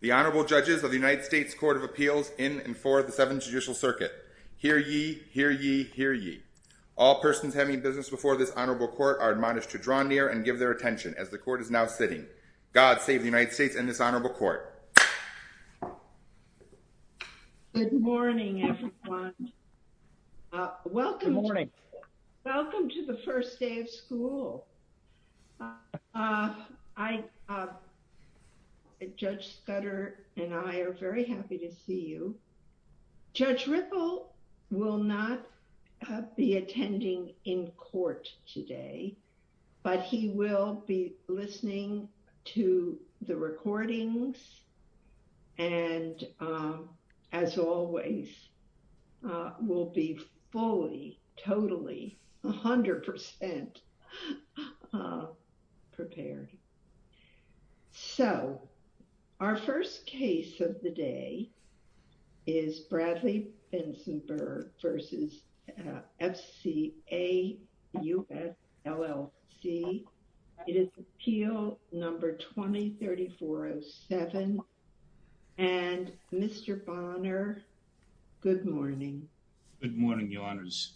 The Honorable Judges of the United States Court of Appeals in and for the Seventh Judicial Circuit. Hear ye, hear ye, hear ye. All persons having business before this Honorable Court are admonished to draw near and give their attention as the Court is now sitting. God save the United States and this Honorable Court. Good morning, everyone. Welcome. Good morning. Welcome to the first day of school. Judge Scudder and I are very happy to see you. Judge Ripple will not be attending in court today, but he will be listening to the recordings and, as always, will be fully, totally, 100% prepared. So our first case of the day is Bradley Bensenberg v. FCA US LLC. It is Appeal Number 20-3407, and Mr. Bonner, good morning. Good morning, Your Honors.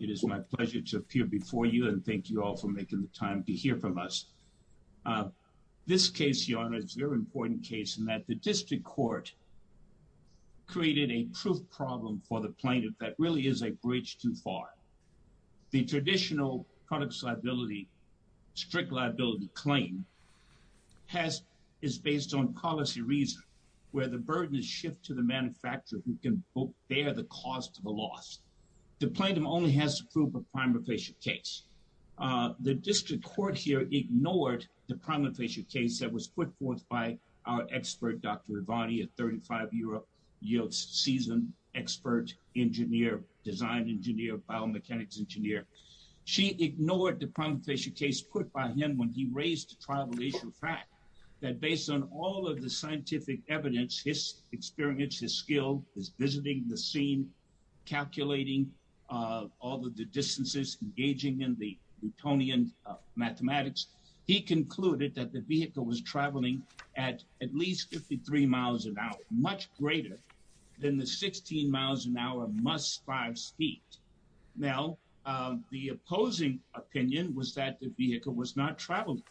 It is my pleasure to appear before you, and thank you all for making the time to hear from us. This case, Your Honors, is a very important case in that the District Court created a proof problem for the plaintiff that really is a bridge too far. The traditional products liability, strict liability claim is based on policy reason, where the burden is shifted to the manufacturer who can bear the cost of the loss. The plaintiff only has to prove a prima facie case. The District Court here ignored the prima facie case that was put forth by our expert, Dr. Ivani, a 35-year-old seasoned expert engineer, design engineer, biomechanics engineer. She ignored the prima facie case put by him when he raised the tribulation fact that based on all of the scientific evidence, his experience, his skill, his visiting the scene, calculating all of the distances, engaging in the Newtonian mathematics, he concluded that the vehicle was traveling at at least 53 miles an hour, much greater than the 16 miles an hour must drive speed. Now, the opposing opinion was that the vehicle was not traveling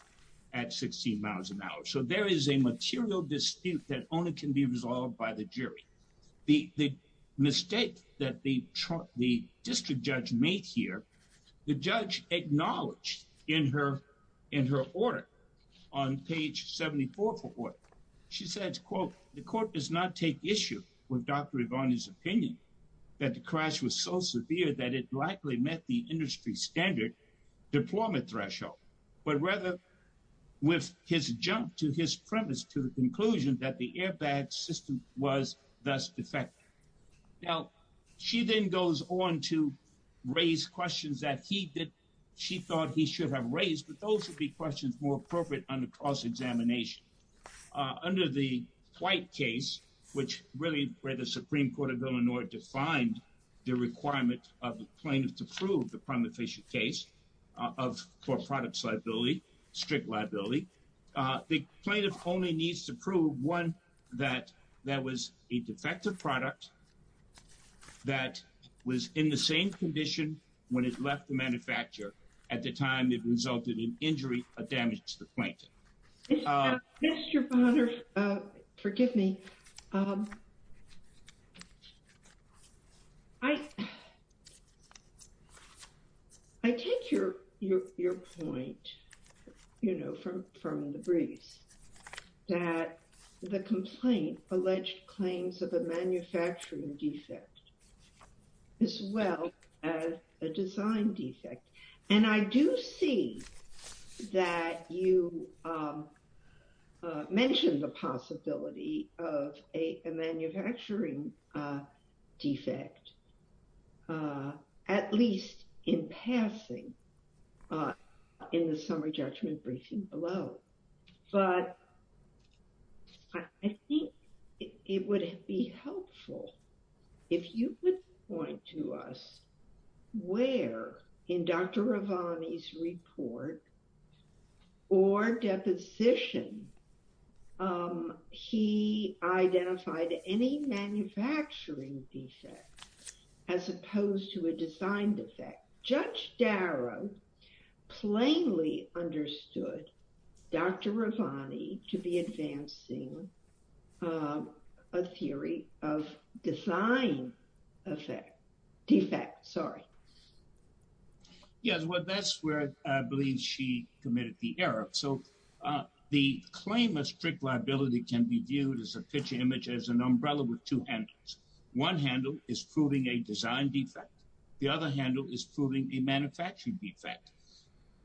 at 16 miles an hour. So there is a material dispute that only can be resolved by the jury. The mistake that the district judge made here, the judge acknowledged in her order, on page 74 of her order. She said, quote, the court does not take issue with Dr. Ivani's opinion that the crash was so severe that it likely met the industry standard deployment threshold, but rather with his jump to his premise, to the conclusion that the airbag system was thus defective. Now, she then goes on to raise questions that he did. She thought he should have raised, but those would be questions more appropriate under cross-examination. Under the White case, which really where the Supreme Court of Illinois defined the requirement of the plaintiff to prove the prima facie case of for products liability, strict liability, the plaintiff only needs to prove, one, that that was a defective product that was in the same condition when it left the manufacturer at the time it resulted in injury or damage to the plaintiff. Mr. Bonner, forgive me. I. I take your, your, your point, you know, from, from the briefs that the complaint alleged claims of a manufacturing defect as well as a design defect, and I do see that you mentioned the possibility of a manufacturing defect, at least in passing, in the summary judgment briefing below, but I think it would be helpful if you would point to us where in Dr. Ravani's report or deposition he identified any manufacturing defect as opposed to a design defect. Judge Darrow plainly understood Dr. Ravani to be advancing a theory of design effect, defect, sorry. Yes, well, that's where I believe she committed the error. So the claim of strict liability can be viewed as a picture image as an umbrella with two handles, one handle is proving a design defect, the other handle is proving a manufacturing defect,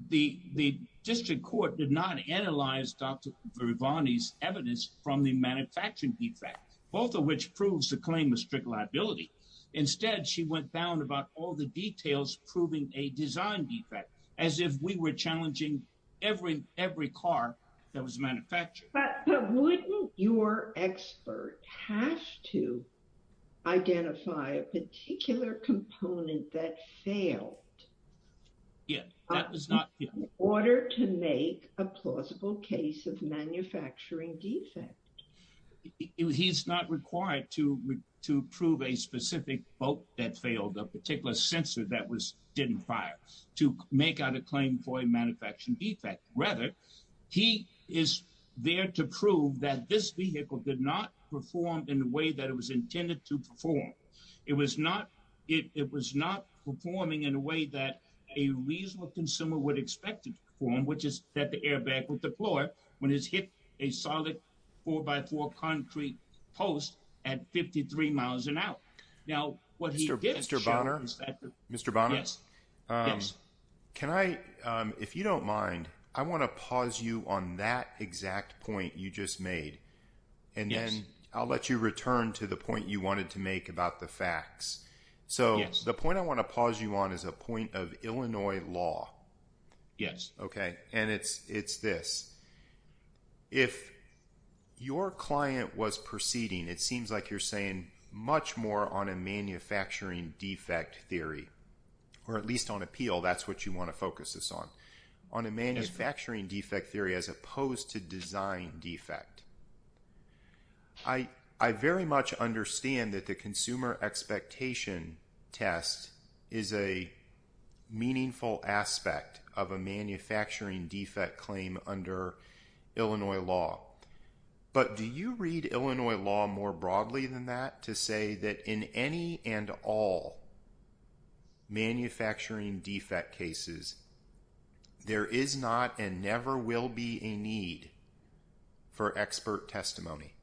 the district court did not analyze Dr. Ravani's evidence from the manufacturing defect, both of which proves the claim of strict liability. Instead, she went down about all the details, proving a design defect, as if we were challenging every, every car that was manufactured. But wouldn't your expert have to identify a particular component that failed? Yeah, that was not. In order to make a plausible case of manufacturing defect. He's not required to prove a specific boat that failed, a particular sensor that was didn't fire to make out a claim for a manufacturing defect. Rather, he is there to prove that this vehicle did not perform in the way that it was intended to perform. It was not, it was not performing in a way that a reasonable consumer would expect to perform, which is that the airbag with the floor when it's hit a solid four by four concrete post at 53 miles an hour. Now, what he did, Mr. Bonner, Mr. Bonner, yes, can I, if you don't mind, I want to pause you on that exact point you just made. And then I'll let you return to the point you wanted to make about the facts. So the point I want to pause you on is a point of Illinois law. Yes. Okay. And it's, it's this. If your client was proceeding, it seems like you're saying much more on a manufacturing defect theory, or at least on appeal. That's what you want to focus this on, on a manufacturing defect theory, as opposed to design defect. I, I very much understand that the consumer expectation test is a meaningful aspect of a manufacturing defect claim under Illinois law. But do you read Illinois law more broadly than that to say that in any and all manufacturing defect cases, there is not and never will be a need for expert testimony?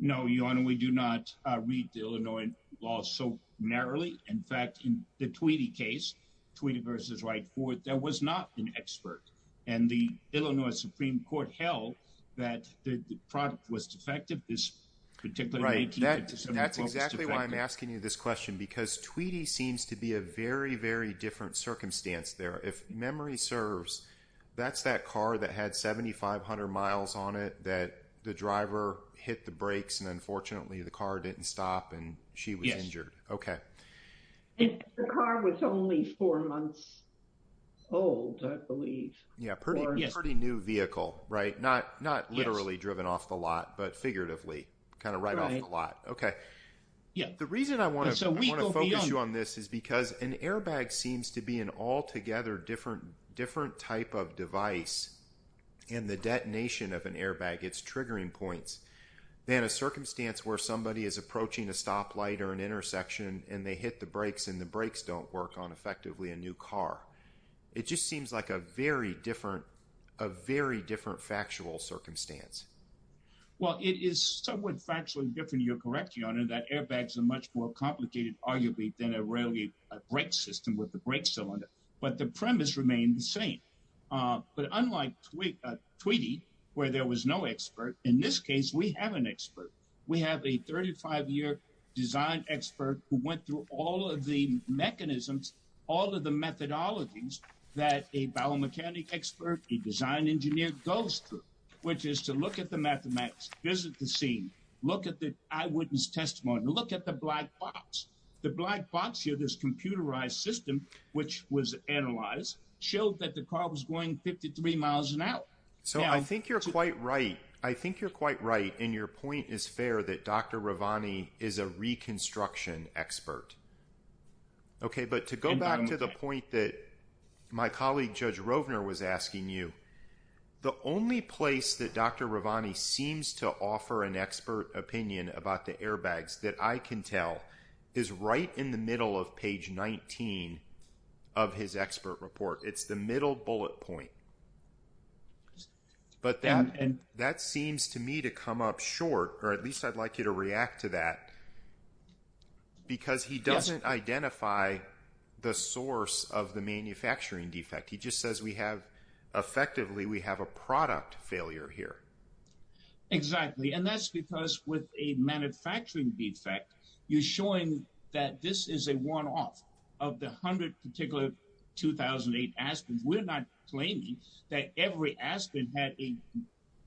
No, Your Honor, we do not read the Illinois law so narrowly. In fact, in the Tweedy case, Tweedy v. Wright Ford, there was not an expert. And the Illinois Supreme Court held that the product was defective, particularly in 1857. Right, that's exactly why I'm asking you this question, because Tweedy seems to be a very, very different circumstance there. If memory serves, that's that car that had 7,500 miles on it that the driver hit the brakes, and unfortunately, the car didn't stop and she was injured. Okay. And the car was only four months old, I believe. Yeah, pretty, pretty new vehicle, right? Not, not literally driven off the lot, but figuratively, kind of right off the lot. Okay. Yeah. The reason I want to focus you on this is because an airbag seems to be an altogether different, different type of device. And the detonation of an airbag, it's triggering points. Then a circumstance where somebody is approaching a stoplight or an intersection and they hit the brakes and the brakes don't work on effectively a new car. It just seems like a very different, a very different factual circumstance. Well, it is somewhat factually different. You're correct, Your Honor, that airbags are much more complicated, arguably, than a really a brake system with the brake cylinder. But the premise remained the same. But unlike Tweedy, where there was no expert, in this case, we have an expert. We have a 35-year design expert who went through all of the mechanisms, all of the methodologies that a biomechanics expert, a design engineer goes through. Which is to look at the mathematics, visit the scene, look at the eyewitness testimony, look at the black box. The black box here, this computerized system, which was analyzed, showed that the car was going 53 miles an hour. So I think you're quite right. I think you're quite right. And your point is fair that Dr. Ravani is a reconstruction expert. OK, but to go back to the point that my colleague, Judge Rovner, was asking you, the only place that Dr. Ravani seems to offer an expert opinion about the airbags that I can tell is right in the middle of page 19 of his expert report. It's the middle bullet point. But that seems to me to come up short, or at least I'd like you to react to that, because he doesn't identify the source of the manufacturing defect. He just says we have, effectively, we have a product failure here. Exactly. And that's because with a manufacturing defect, you're showing that this is a one-off of the 100 particular 2008 Aspens. We're not claiming that every Aspen had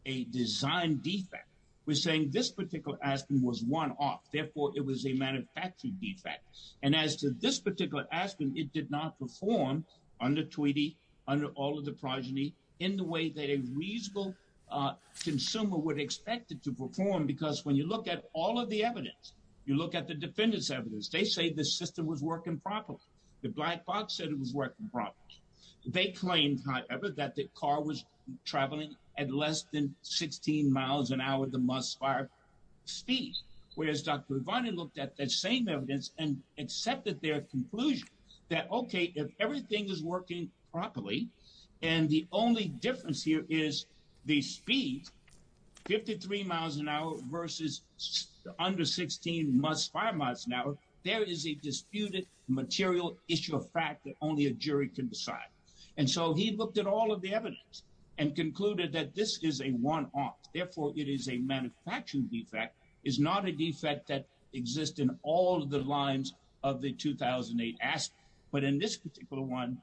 a design defect. We're saying this particular Aspen was one-off. Therefore, it was a manufacturing defect. And as to this particular Aspen, it did not perform, under Tweedy, under all of the progeny, in the way that a reasonable consumer would expect it to perform. Because when you look at all of the evidence, you look at the defendant's evidence, they say the system was working properly. The black box said it was working properly. They claimed, however, that the car was traveling at less than 16 miles an hour at the must-fire speed, whereas Dr. Ravani looked at that same evidence and accepted their conclusion that, OK, if everything is working properly, and the only difference here is the speed, 53 miles an hour versus under 16 must-fire miles an hour, there is a disputed material issue of fact that only a jury can decide. And so he looked at all of the evidence and concluded that this is a one-off. Therefore, it is a manufacturing defect. It is not a defect that exists in all of the lines of the 2008 Aspen. But in this particular one,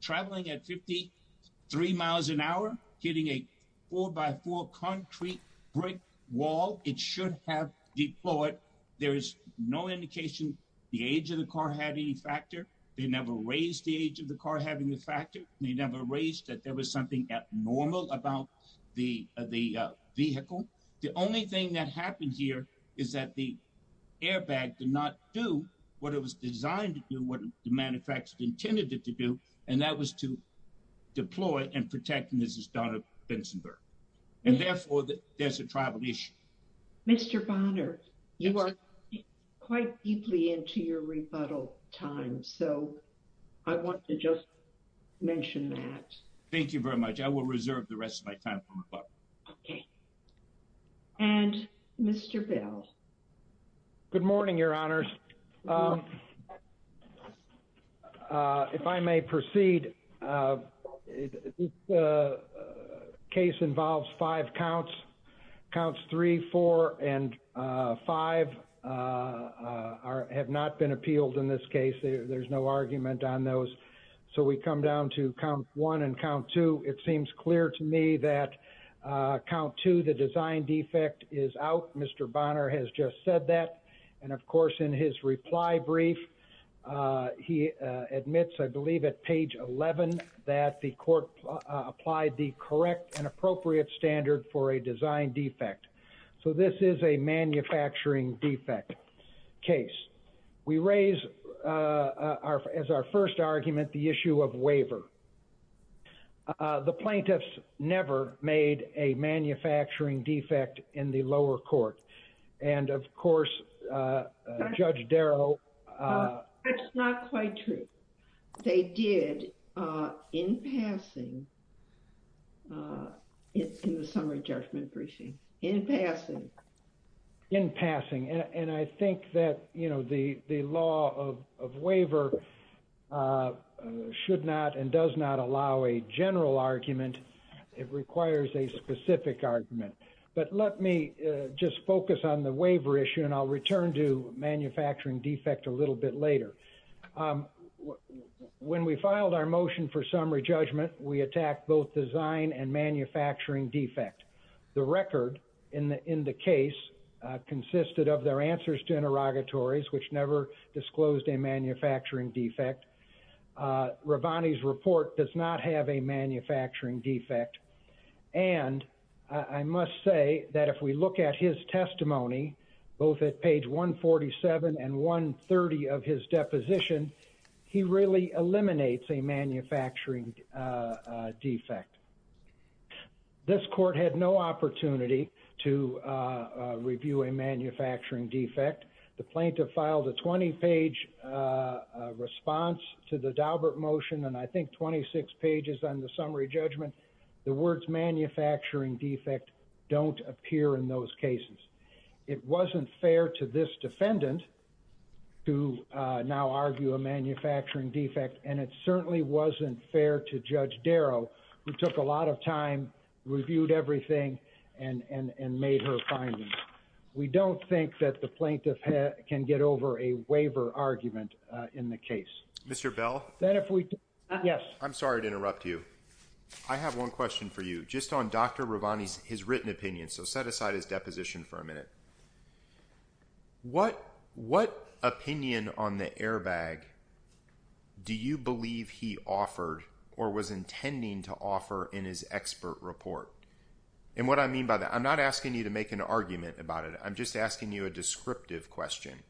traveling at 53 miles an hour, hitting a 4-by-4 concrete brick wall, it should have deployed. There is no indication the age of the car had any factor. They never raised the age of the car having a factor. They never raised that there was something abnormal about the vehicle. The only thing that happened here is that the airbag did not do what it was designed to do, what the manufacturer intended it to do, and that was to deploy and protect Mrs. Donna Bensonburg. And therefore, there's a tribal issue. Mr. Bonner, you are quite deeply into your rebuttal time. So I want to just mention that. Thank you very much. I will reserve the rest of my time for rebuttal. Okay. And Mr. Bell. Good morning, Your Honors. If I may proceed, this case involves five counts. Counts 3, 4, and 5 have not been appealed in this case. There's no argument on those. So we come down to count 1 and count 2. It seems clear to me that count 2, the design defect, is out. Mr. Bonner has just said that. And of course, in his reply brief, he admits, I believe, at page 11 that the court applied the correct and appropriate standard for a design defect. So this is a manufacturing defect case. We raise as our first argument the issue of waiver. The plaintiffs never made a manufacturing defect in the lower court. And of course, Judge Darrow. That's not quite true. They did in passing. It's in the summary judgment briefing. In passing. In passing. And I think that, you know, the law of waiver should not and does not allow a general argument. It requires a specific argument. But let me just focus on the waiver issue, and I'll return to manufacturing defect a little bit later. When we filed our motion for summary judgment, we attacked both design and manufacturing defect. The record in the case consisted of their answers to interrogatories, which never disclosed a manufacturing defect. Ravani's report does not have a manufacturing defect. And I must say that if we look at his testimony, both at page 147 and 130 of his deposition, he really eliminates a manufacturing defect. This court had no opportunity to review a manufacturing defect. The plaintiff filed a 20-page response to the Daubert motion and I think 26 pages on the summary judgment. The words manufacturing defect don't appear in those cases. It wasn't fair to this defendant to now argue a manufacturing defect, and it certainly wasn't fair to Judge Darrow, who took a lot of time, reviewed everything, and made her findings. We don't think that the plaintiff can get over a waiver argument in the case. Mr. Bell? I'm sorry to interrupt you. I have one question for you. Just on Dr. Ravani's written opinion, so set aside his deposition for a minute. What opinion on the airbag do you believe he offered or was intending to offer in his expert report? And what I mean by that, I'm not asking you to make an argument about it. I'm just asking you a descriptive question.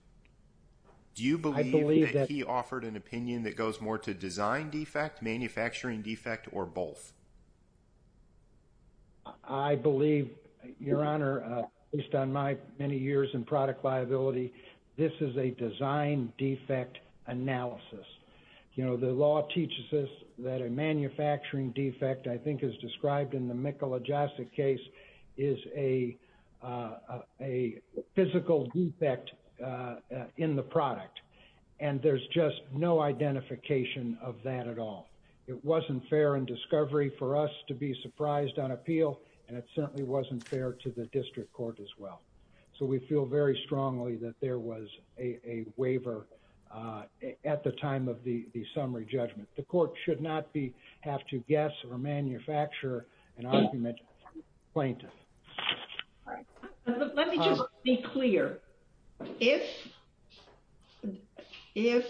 Do you believe that he offered an opinion that goes more to design defect, manufacturing defect, or both? I believe, Your Honor, based on my many years in product liability, this is a design defect analysis. You know, the law teaches us that a manufacturing defect, I think, is described in the product, and there's just no identification of that at all. It wasn't fair in discovery for us to be surprised on appeal, and it certainly wasn't fair to the district court as well. So we feel very strongly that there was a waiver at the time of the summary judgment. The court should not have to guess or manufacture an argument from the plaintiff. All right, let me just be clear. If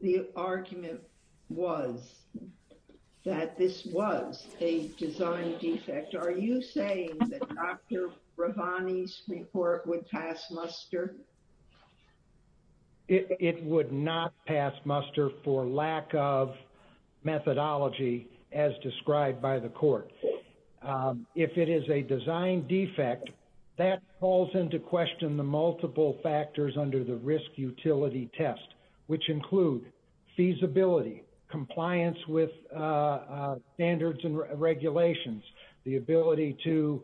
the argument was that this was a design defect, are you saying that Dr. Bravani's report would pass muster? It would not pass muster for lack of methodology as described by the court. If it is a design defect, that calls into question the multiple factors under the risk utility test, which include feasibility, compliance with standards and regulations, the ability to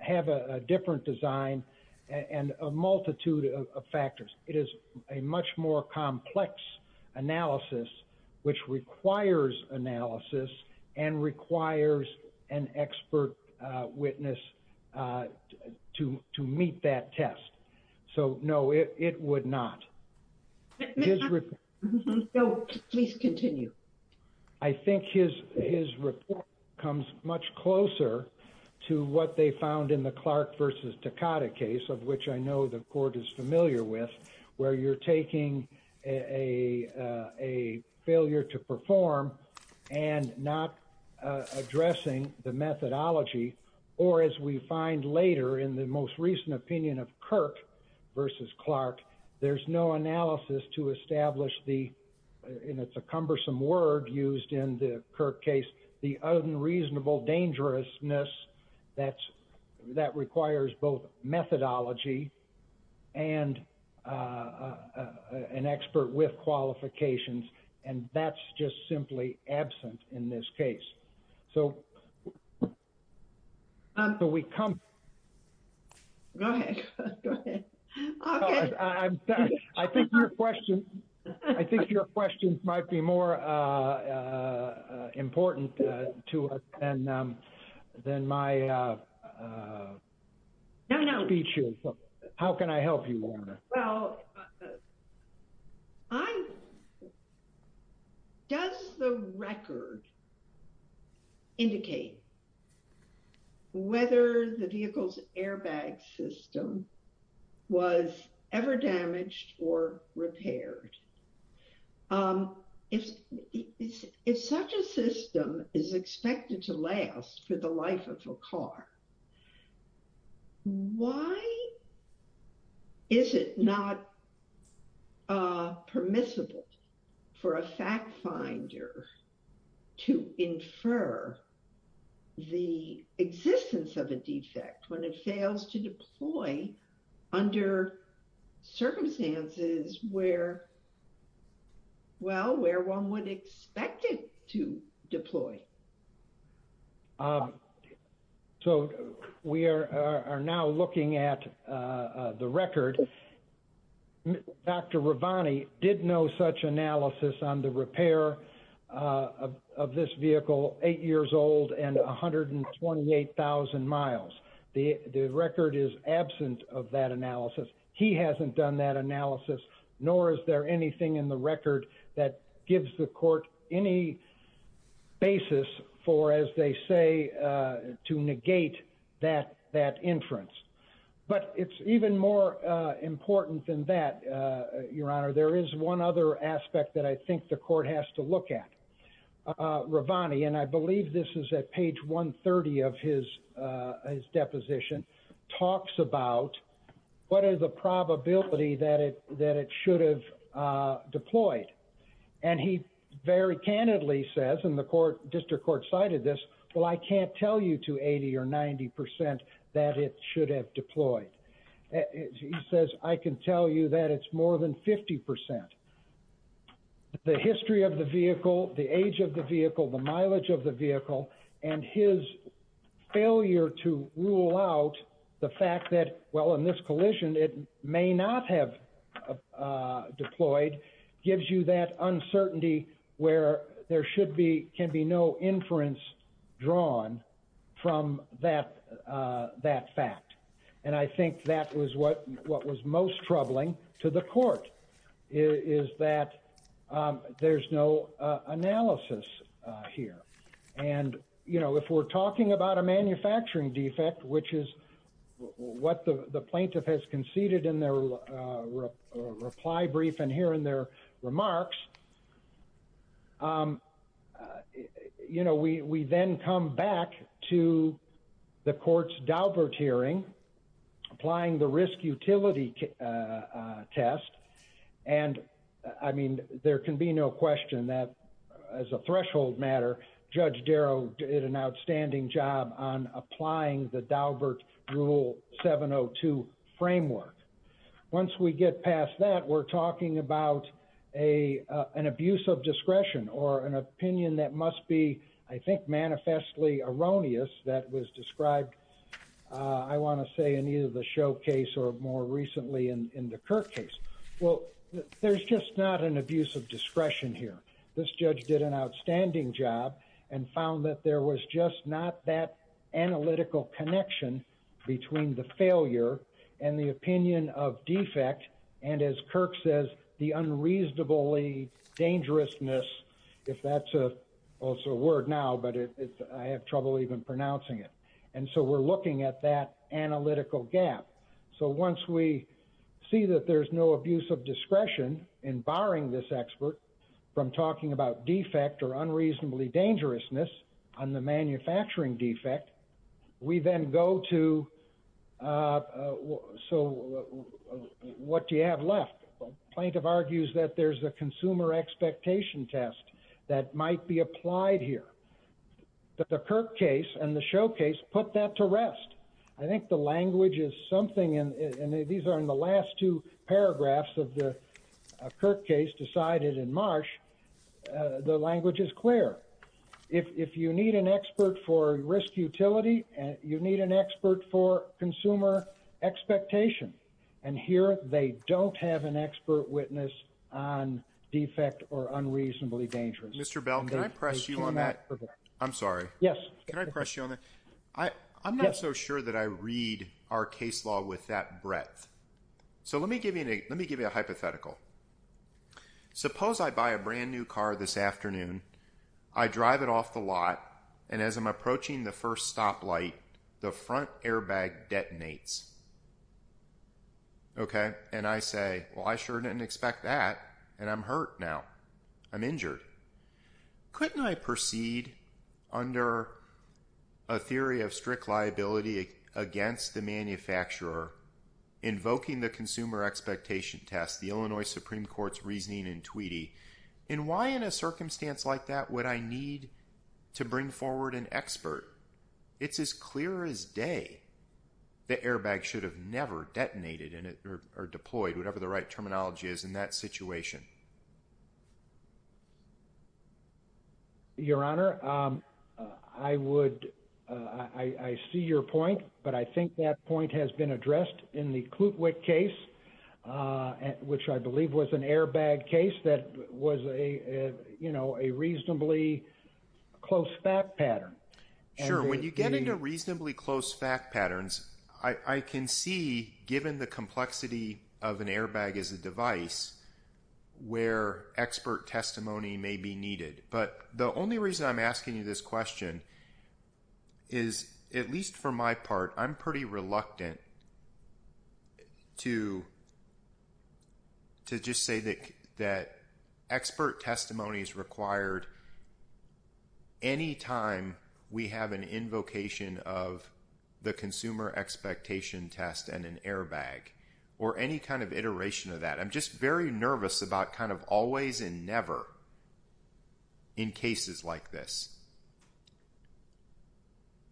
have a different design, and a multitude of factors. It is a much more complex analysis, which requires analysis and requires an expert witness to meet that test. So, no, it would not. So, please continue. I think his report comes much closer to what they found in the Clark v. Takada case, of which I know the court is familiar with, where you're taking a failure to perform and not addressing the methodology, or as we find later in the most recent opinion of Kirk v. Clark, there's no analysis to establish the, and it's a cumbersome word used in the Kirk case, the unreasonable dangerousness that's, that requires both methodology and an expert with qualifications, and that's just simply absent in this case. So, until we come. Go ahead. Go ahead. I think your question, I think your question might be more important to us than my No, no. How can I help you, Warner? Well, does the record indicate whether the vehicle's airbag system was ever damaged or repaired? If such a system is expected to last for the life of a car, why is it not permissible for a fact finder to infer the existence of a defect when it fails to deploy under circumstances where, well, where one would expect it to deploy? So, we are now looking at the record, Dr. Ravani did know such analysis on the repair of this vehicle, eight years old and 128,000 miles. The record is absent of that analysis. He hasn't done that analysis, nor is there anything in the record that gives the court any basis for, as they say, to negate that inference. But it's even more important than that, Your Honor. There is one other aspect that I think the court has to look at. Ravani, and I believe this is at page 130 of his deposition, talks about what is the probability that it should have deployed. And he very candidly says, and the district court cited this, well, I can't tell you to 80 or 90% that it should have deployed. He says, I can tell you that it's more than 50%. The history of the vehicle, the age of the vehicle, the mileage of the vehicle, and his failure to rule out the fact that, well, in this collision, it may not have deployed, gives you that uncertainty where there can be no inference drawn from that fact. And I think that was what was most troubling to the court, is that there's no analysis here. And if we're talking about a manufacturing defect, which is what the plaintiff has conceded in their reply brief and here in their remarks, we then come back to the court's Daubert hearing, applying the risk utility test. And I mean, there can be no question that, as a threshold matter, Judge Darrow did an outstanding job on applying the Daubert Rule 702 framework. Once we get past that, we're talking about an abuse of discretion or an opinion that must be, I think, manifestly erroneous that was described, I want to say, in either the show case or more recently in the Kirk case. Well, there's just not an abuse of discretion here. This judge did an outstanding job and found that there was just not that analytical connection between the failure and the opinion of defect. And as Kirk says, the unreasonably dangerousness, if that's also a word now, but I have trouble even pronouncing it. And so we're looking at that analytical gap. So once we see that there's no abuse of discretion in barring this expert from talking about the Daubert Rule 702, so what do you have left? Plaintiff argues that there's a consumer expectation test that might be applied here. The Kirk case and the show case put that to rest. I think the language is something, and these are in the last two paragraphs of the Kirk case decided in Marsh, the language is clear. If you need an expert for risk utility, you need an expert for consumer expectation. And here they don't have an expert witness on defect or unreasonably dangerous. Mr. Bell, can I press you on that? I'm sorry. Yes. Can I press you on that? I'm not so sure that I read our case law with that breadth. So let me give you a hypothetical. Suppose I buy a brand new car this afternoon, I drive it off the lot, and as I'm approaching the first stoplight, the front airbag detonates. Okay. And I say, well, I sure didn't expect that. And I'm hurt now. I'm injured. Couldn't I proceed under a theory of strict liability against the manufacturer invoking the consumer expectation test, the Illinois Supreme Court's reasoning in Tweedy? And why in a circumstance like that would I need to bring forward an expert? It's as clear as day. The airbag should have never detonated or deployed, whatever the right terminology is in that situation. Your Honor, I would, I see your point, but I think that point has been addressed in the case, which I believe was an airbag case that was a reasonably close fact pattern. Sure. When you get into reasonably close fact patterns, I can see, given the complexity of an airbag as a device, where expert testimony may be needed. But the only reason I'm asking you this question is, at least for my part, I'm pretty reluctant to just say that expert testimony is required any time we have an invocation of the consumer expectation test and an airbag or any kind of iteration of that. I'm just very nervous about kind of always and never in cases like this.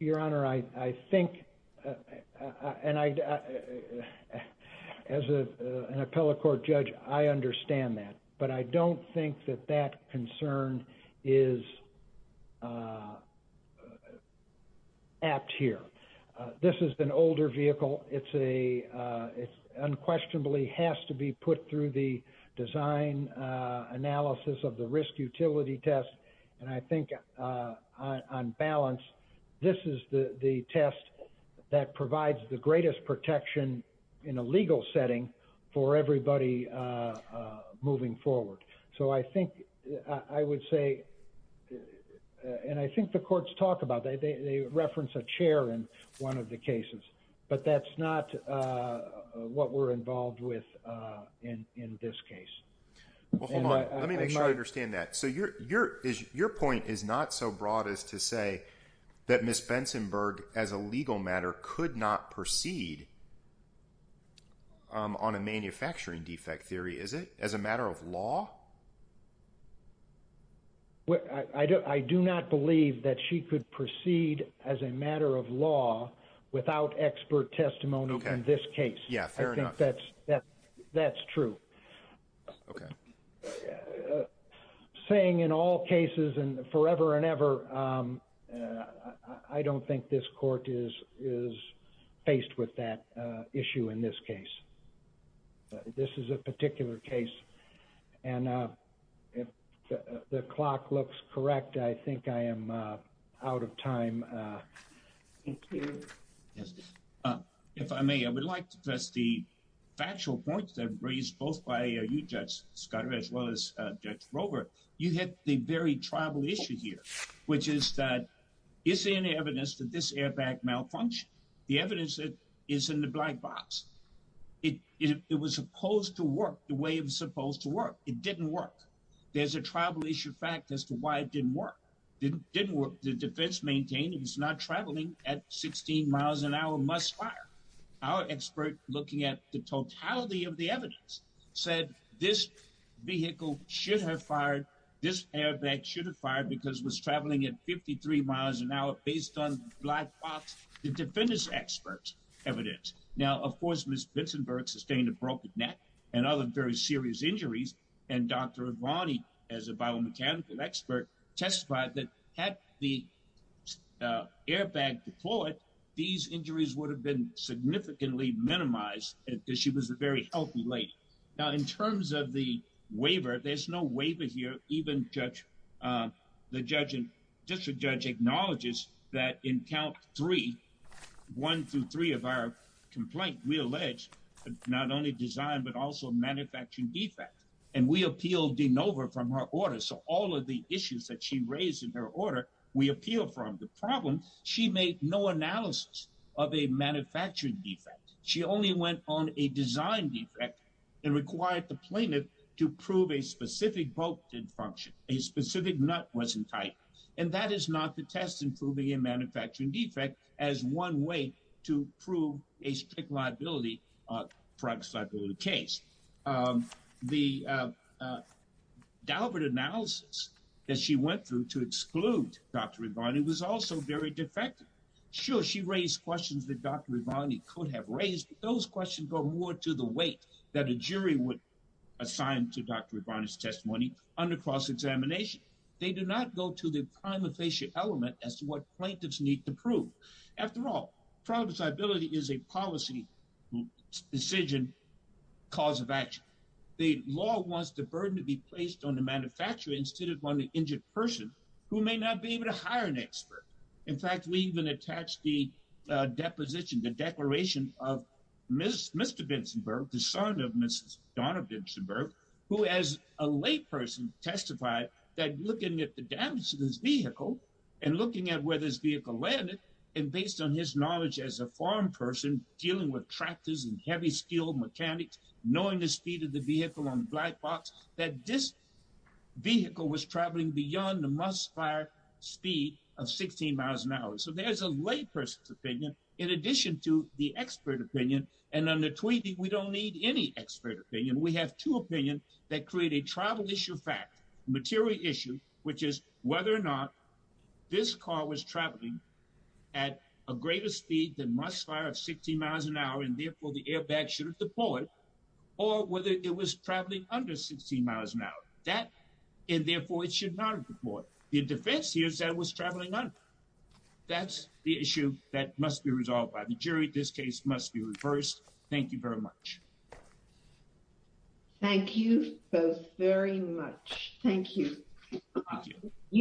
Your Honor, I think, and I, as an appellate court judge, I understand that. But I don't think that that concern is apt here. This is an older vehicle. It's a, it unquestionably has to be put through the design analysis of the risk utility test. And I think on balance, this is the test that provides the greatest protection in a legal setting for everybody moving forward. So I think I would say, and I think the courts talk about, they reference a chair in one of the cases. But that's not what we're involved with in this case. Well, hold on. Let me make sure I understand that. So your point is not so broad as to say that Ms. Bensonberg, as a legal matter, could not proceed on a manufacturing defect theory, is it? As a matter of law? I do not believe that she could proceed as a matter of law without expert testimony in this case. Yeah, fair enough. That's true. Okay. I'm saying in all cases and forever and ever, I don't think this court is faced with that issue in this case. This is a particular case. And if the clock looks correct, I think I am out of time. Thank you. Yes. If I may, I would like to address the factual points that were raised both by you, Judge Scott, as well as Judge Rover. You hit the very tribal issue here, which is that is there any evidence that this airbag malfunctioned? The evidence is in the black box. It was supposed to work the way it was supposed to work. It didn't work. There's a tribal issue fact as to why it didn't work. The defense maintained it was not traveling at 16 miles an hour must fire. Our expert looking at the totality of the evidence said this vehicle should have fired. This airbag should have fired because it was traveling at 53 miles an hour based on black box. The defendants expert evidence. Now, of course, Ms. Vincent Burke sustained a broken neck and other very serious injuries. And Dr. Avani, as a biomechanical expert, testified that had the airbag deployed, these injuries would have been significantly minimized because she was a very healthy lady. Now, in terms of the waiver, there's no waiver here. Even judge the judge and district judge acknowledges that in count three, one to three of our alleged not only design, but also manufacturing defect. And we appealed de novo from her order. So all of the issues that she raised in her order, we appeal from the problem. She made no analysis of a manufacturing defect. She only went on a design defect and required the plaintiff to prove a specific boat did function. A specific nut wasn't tight. And that is not the test. Improving a manufacturing defect as one way to prove a strict liability, a private liability case. The Dalbert analysis that she went through to exclude Dr. Avani was also very defective. Sure, she raised questions that Dr. Avani could have raised. Those questions go more to the weight that a jury would assign to Dr. Avani's testimony under cross examination. They do not go to the primary element as to what plaintiffs need to prove. After all, private liability is a policy decision cause of action. The law wants the burden to be placed on the manufacturer instead of on the injured person who may not be able to hire an expert. In fact, we even attach the deposition, the declaration of Mr. Vinzenberg, the son of Mrs. Donna Vinzenberg, who as a layperson testified that looking at the damage to this vehicle and looking at where this vehicle landed and based on his knowledge as a farm person dealing with tractors and heavy steel mechanics, knowing the speed of the vehicle on black box, that this vehicle was traveling beyond the must fire speed of 16 miles an hour. So there's a lay person's opinion in addition to the expert opinion. And on the tweeting, we don't need any expert opinion. We have two opinions that create a travel issue fact, material issue, which is whether or not this car was traveling at a greater speed than must fire of 16 miles an hour. And therefore, the airbag should have deployed or whether it was traveling under 16 miles an hour that and therefore it should not have deployed. The defense here said it was traveling under. That's the issue that must be resolved by the jury. This case must be reversed. Thank you very much. Thank you both very much. Thank you.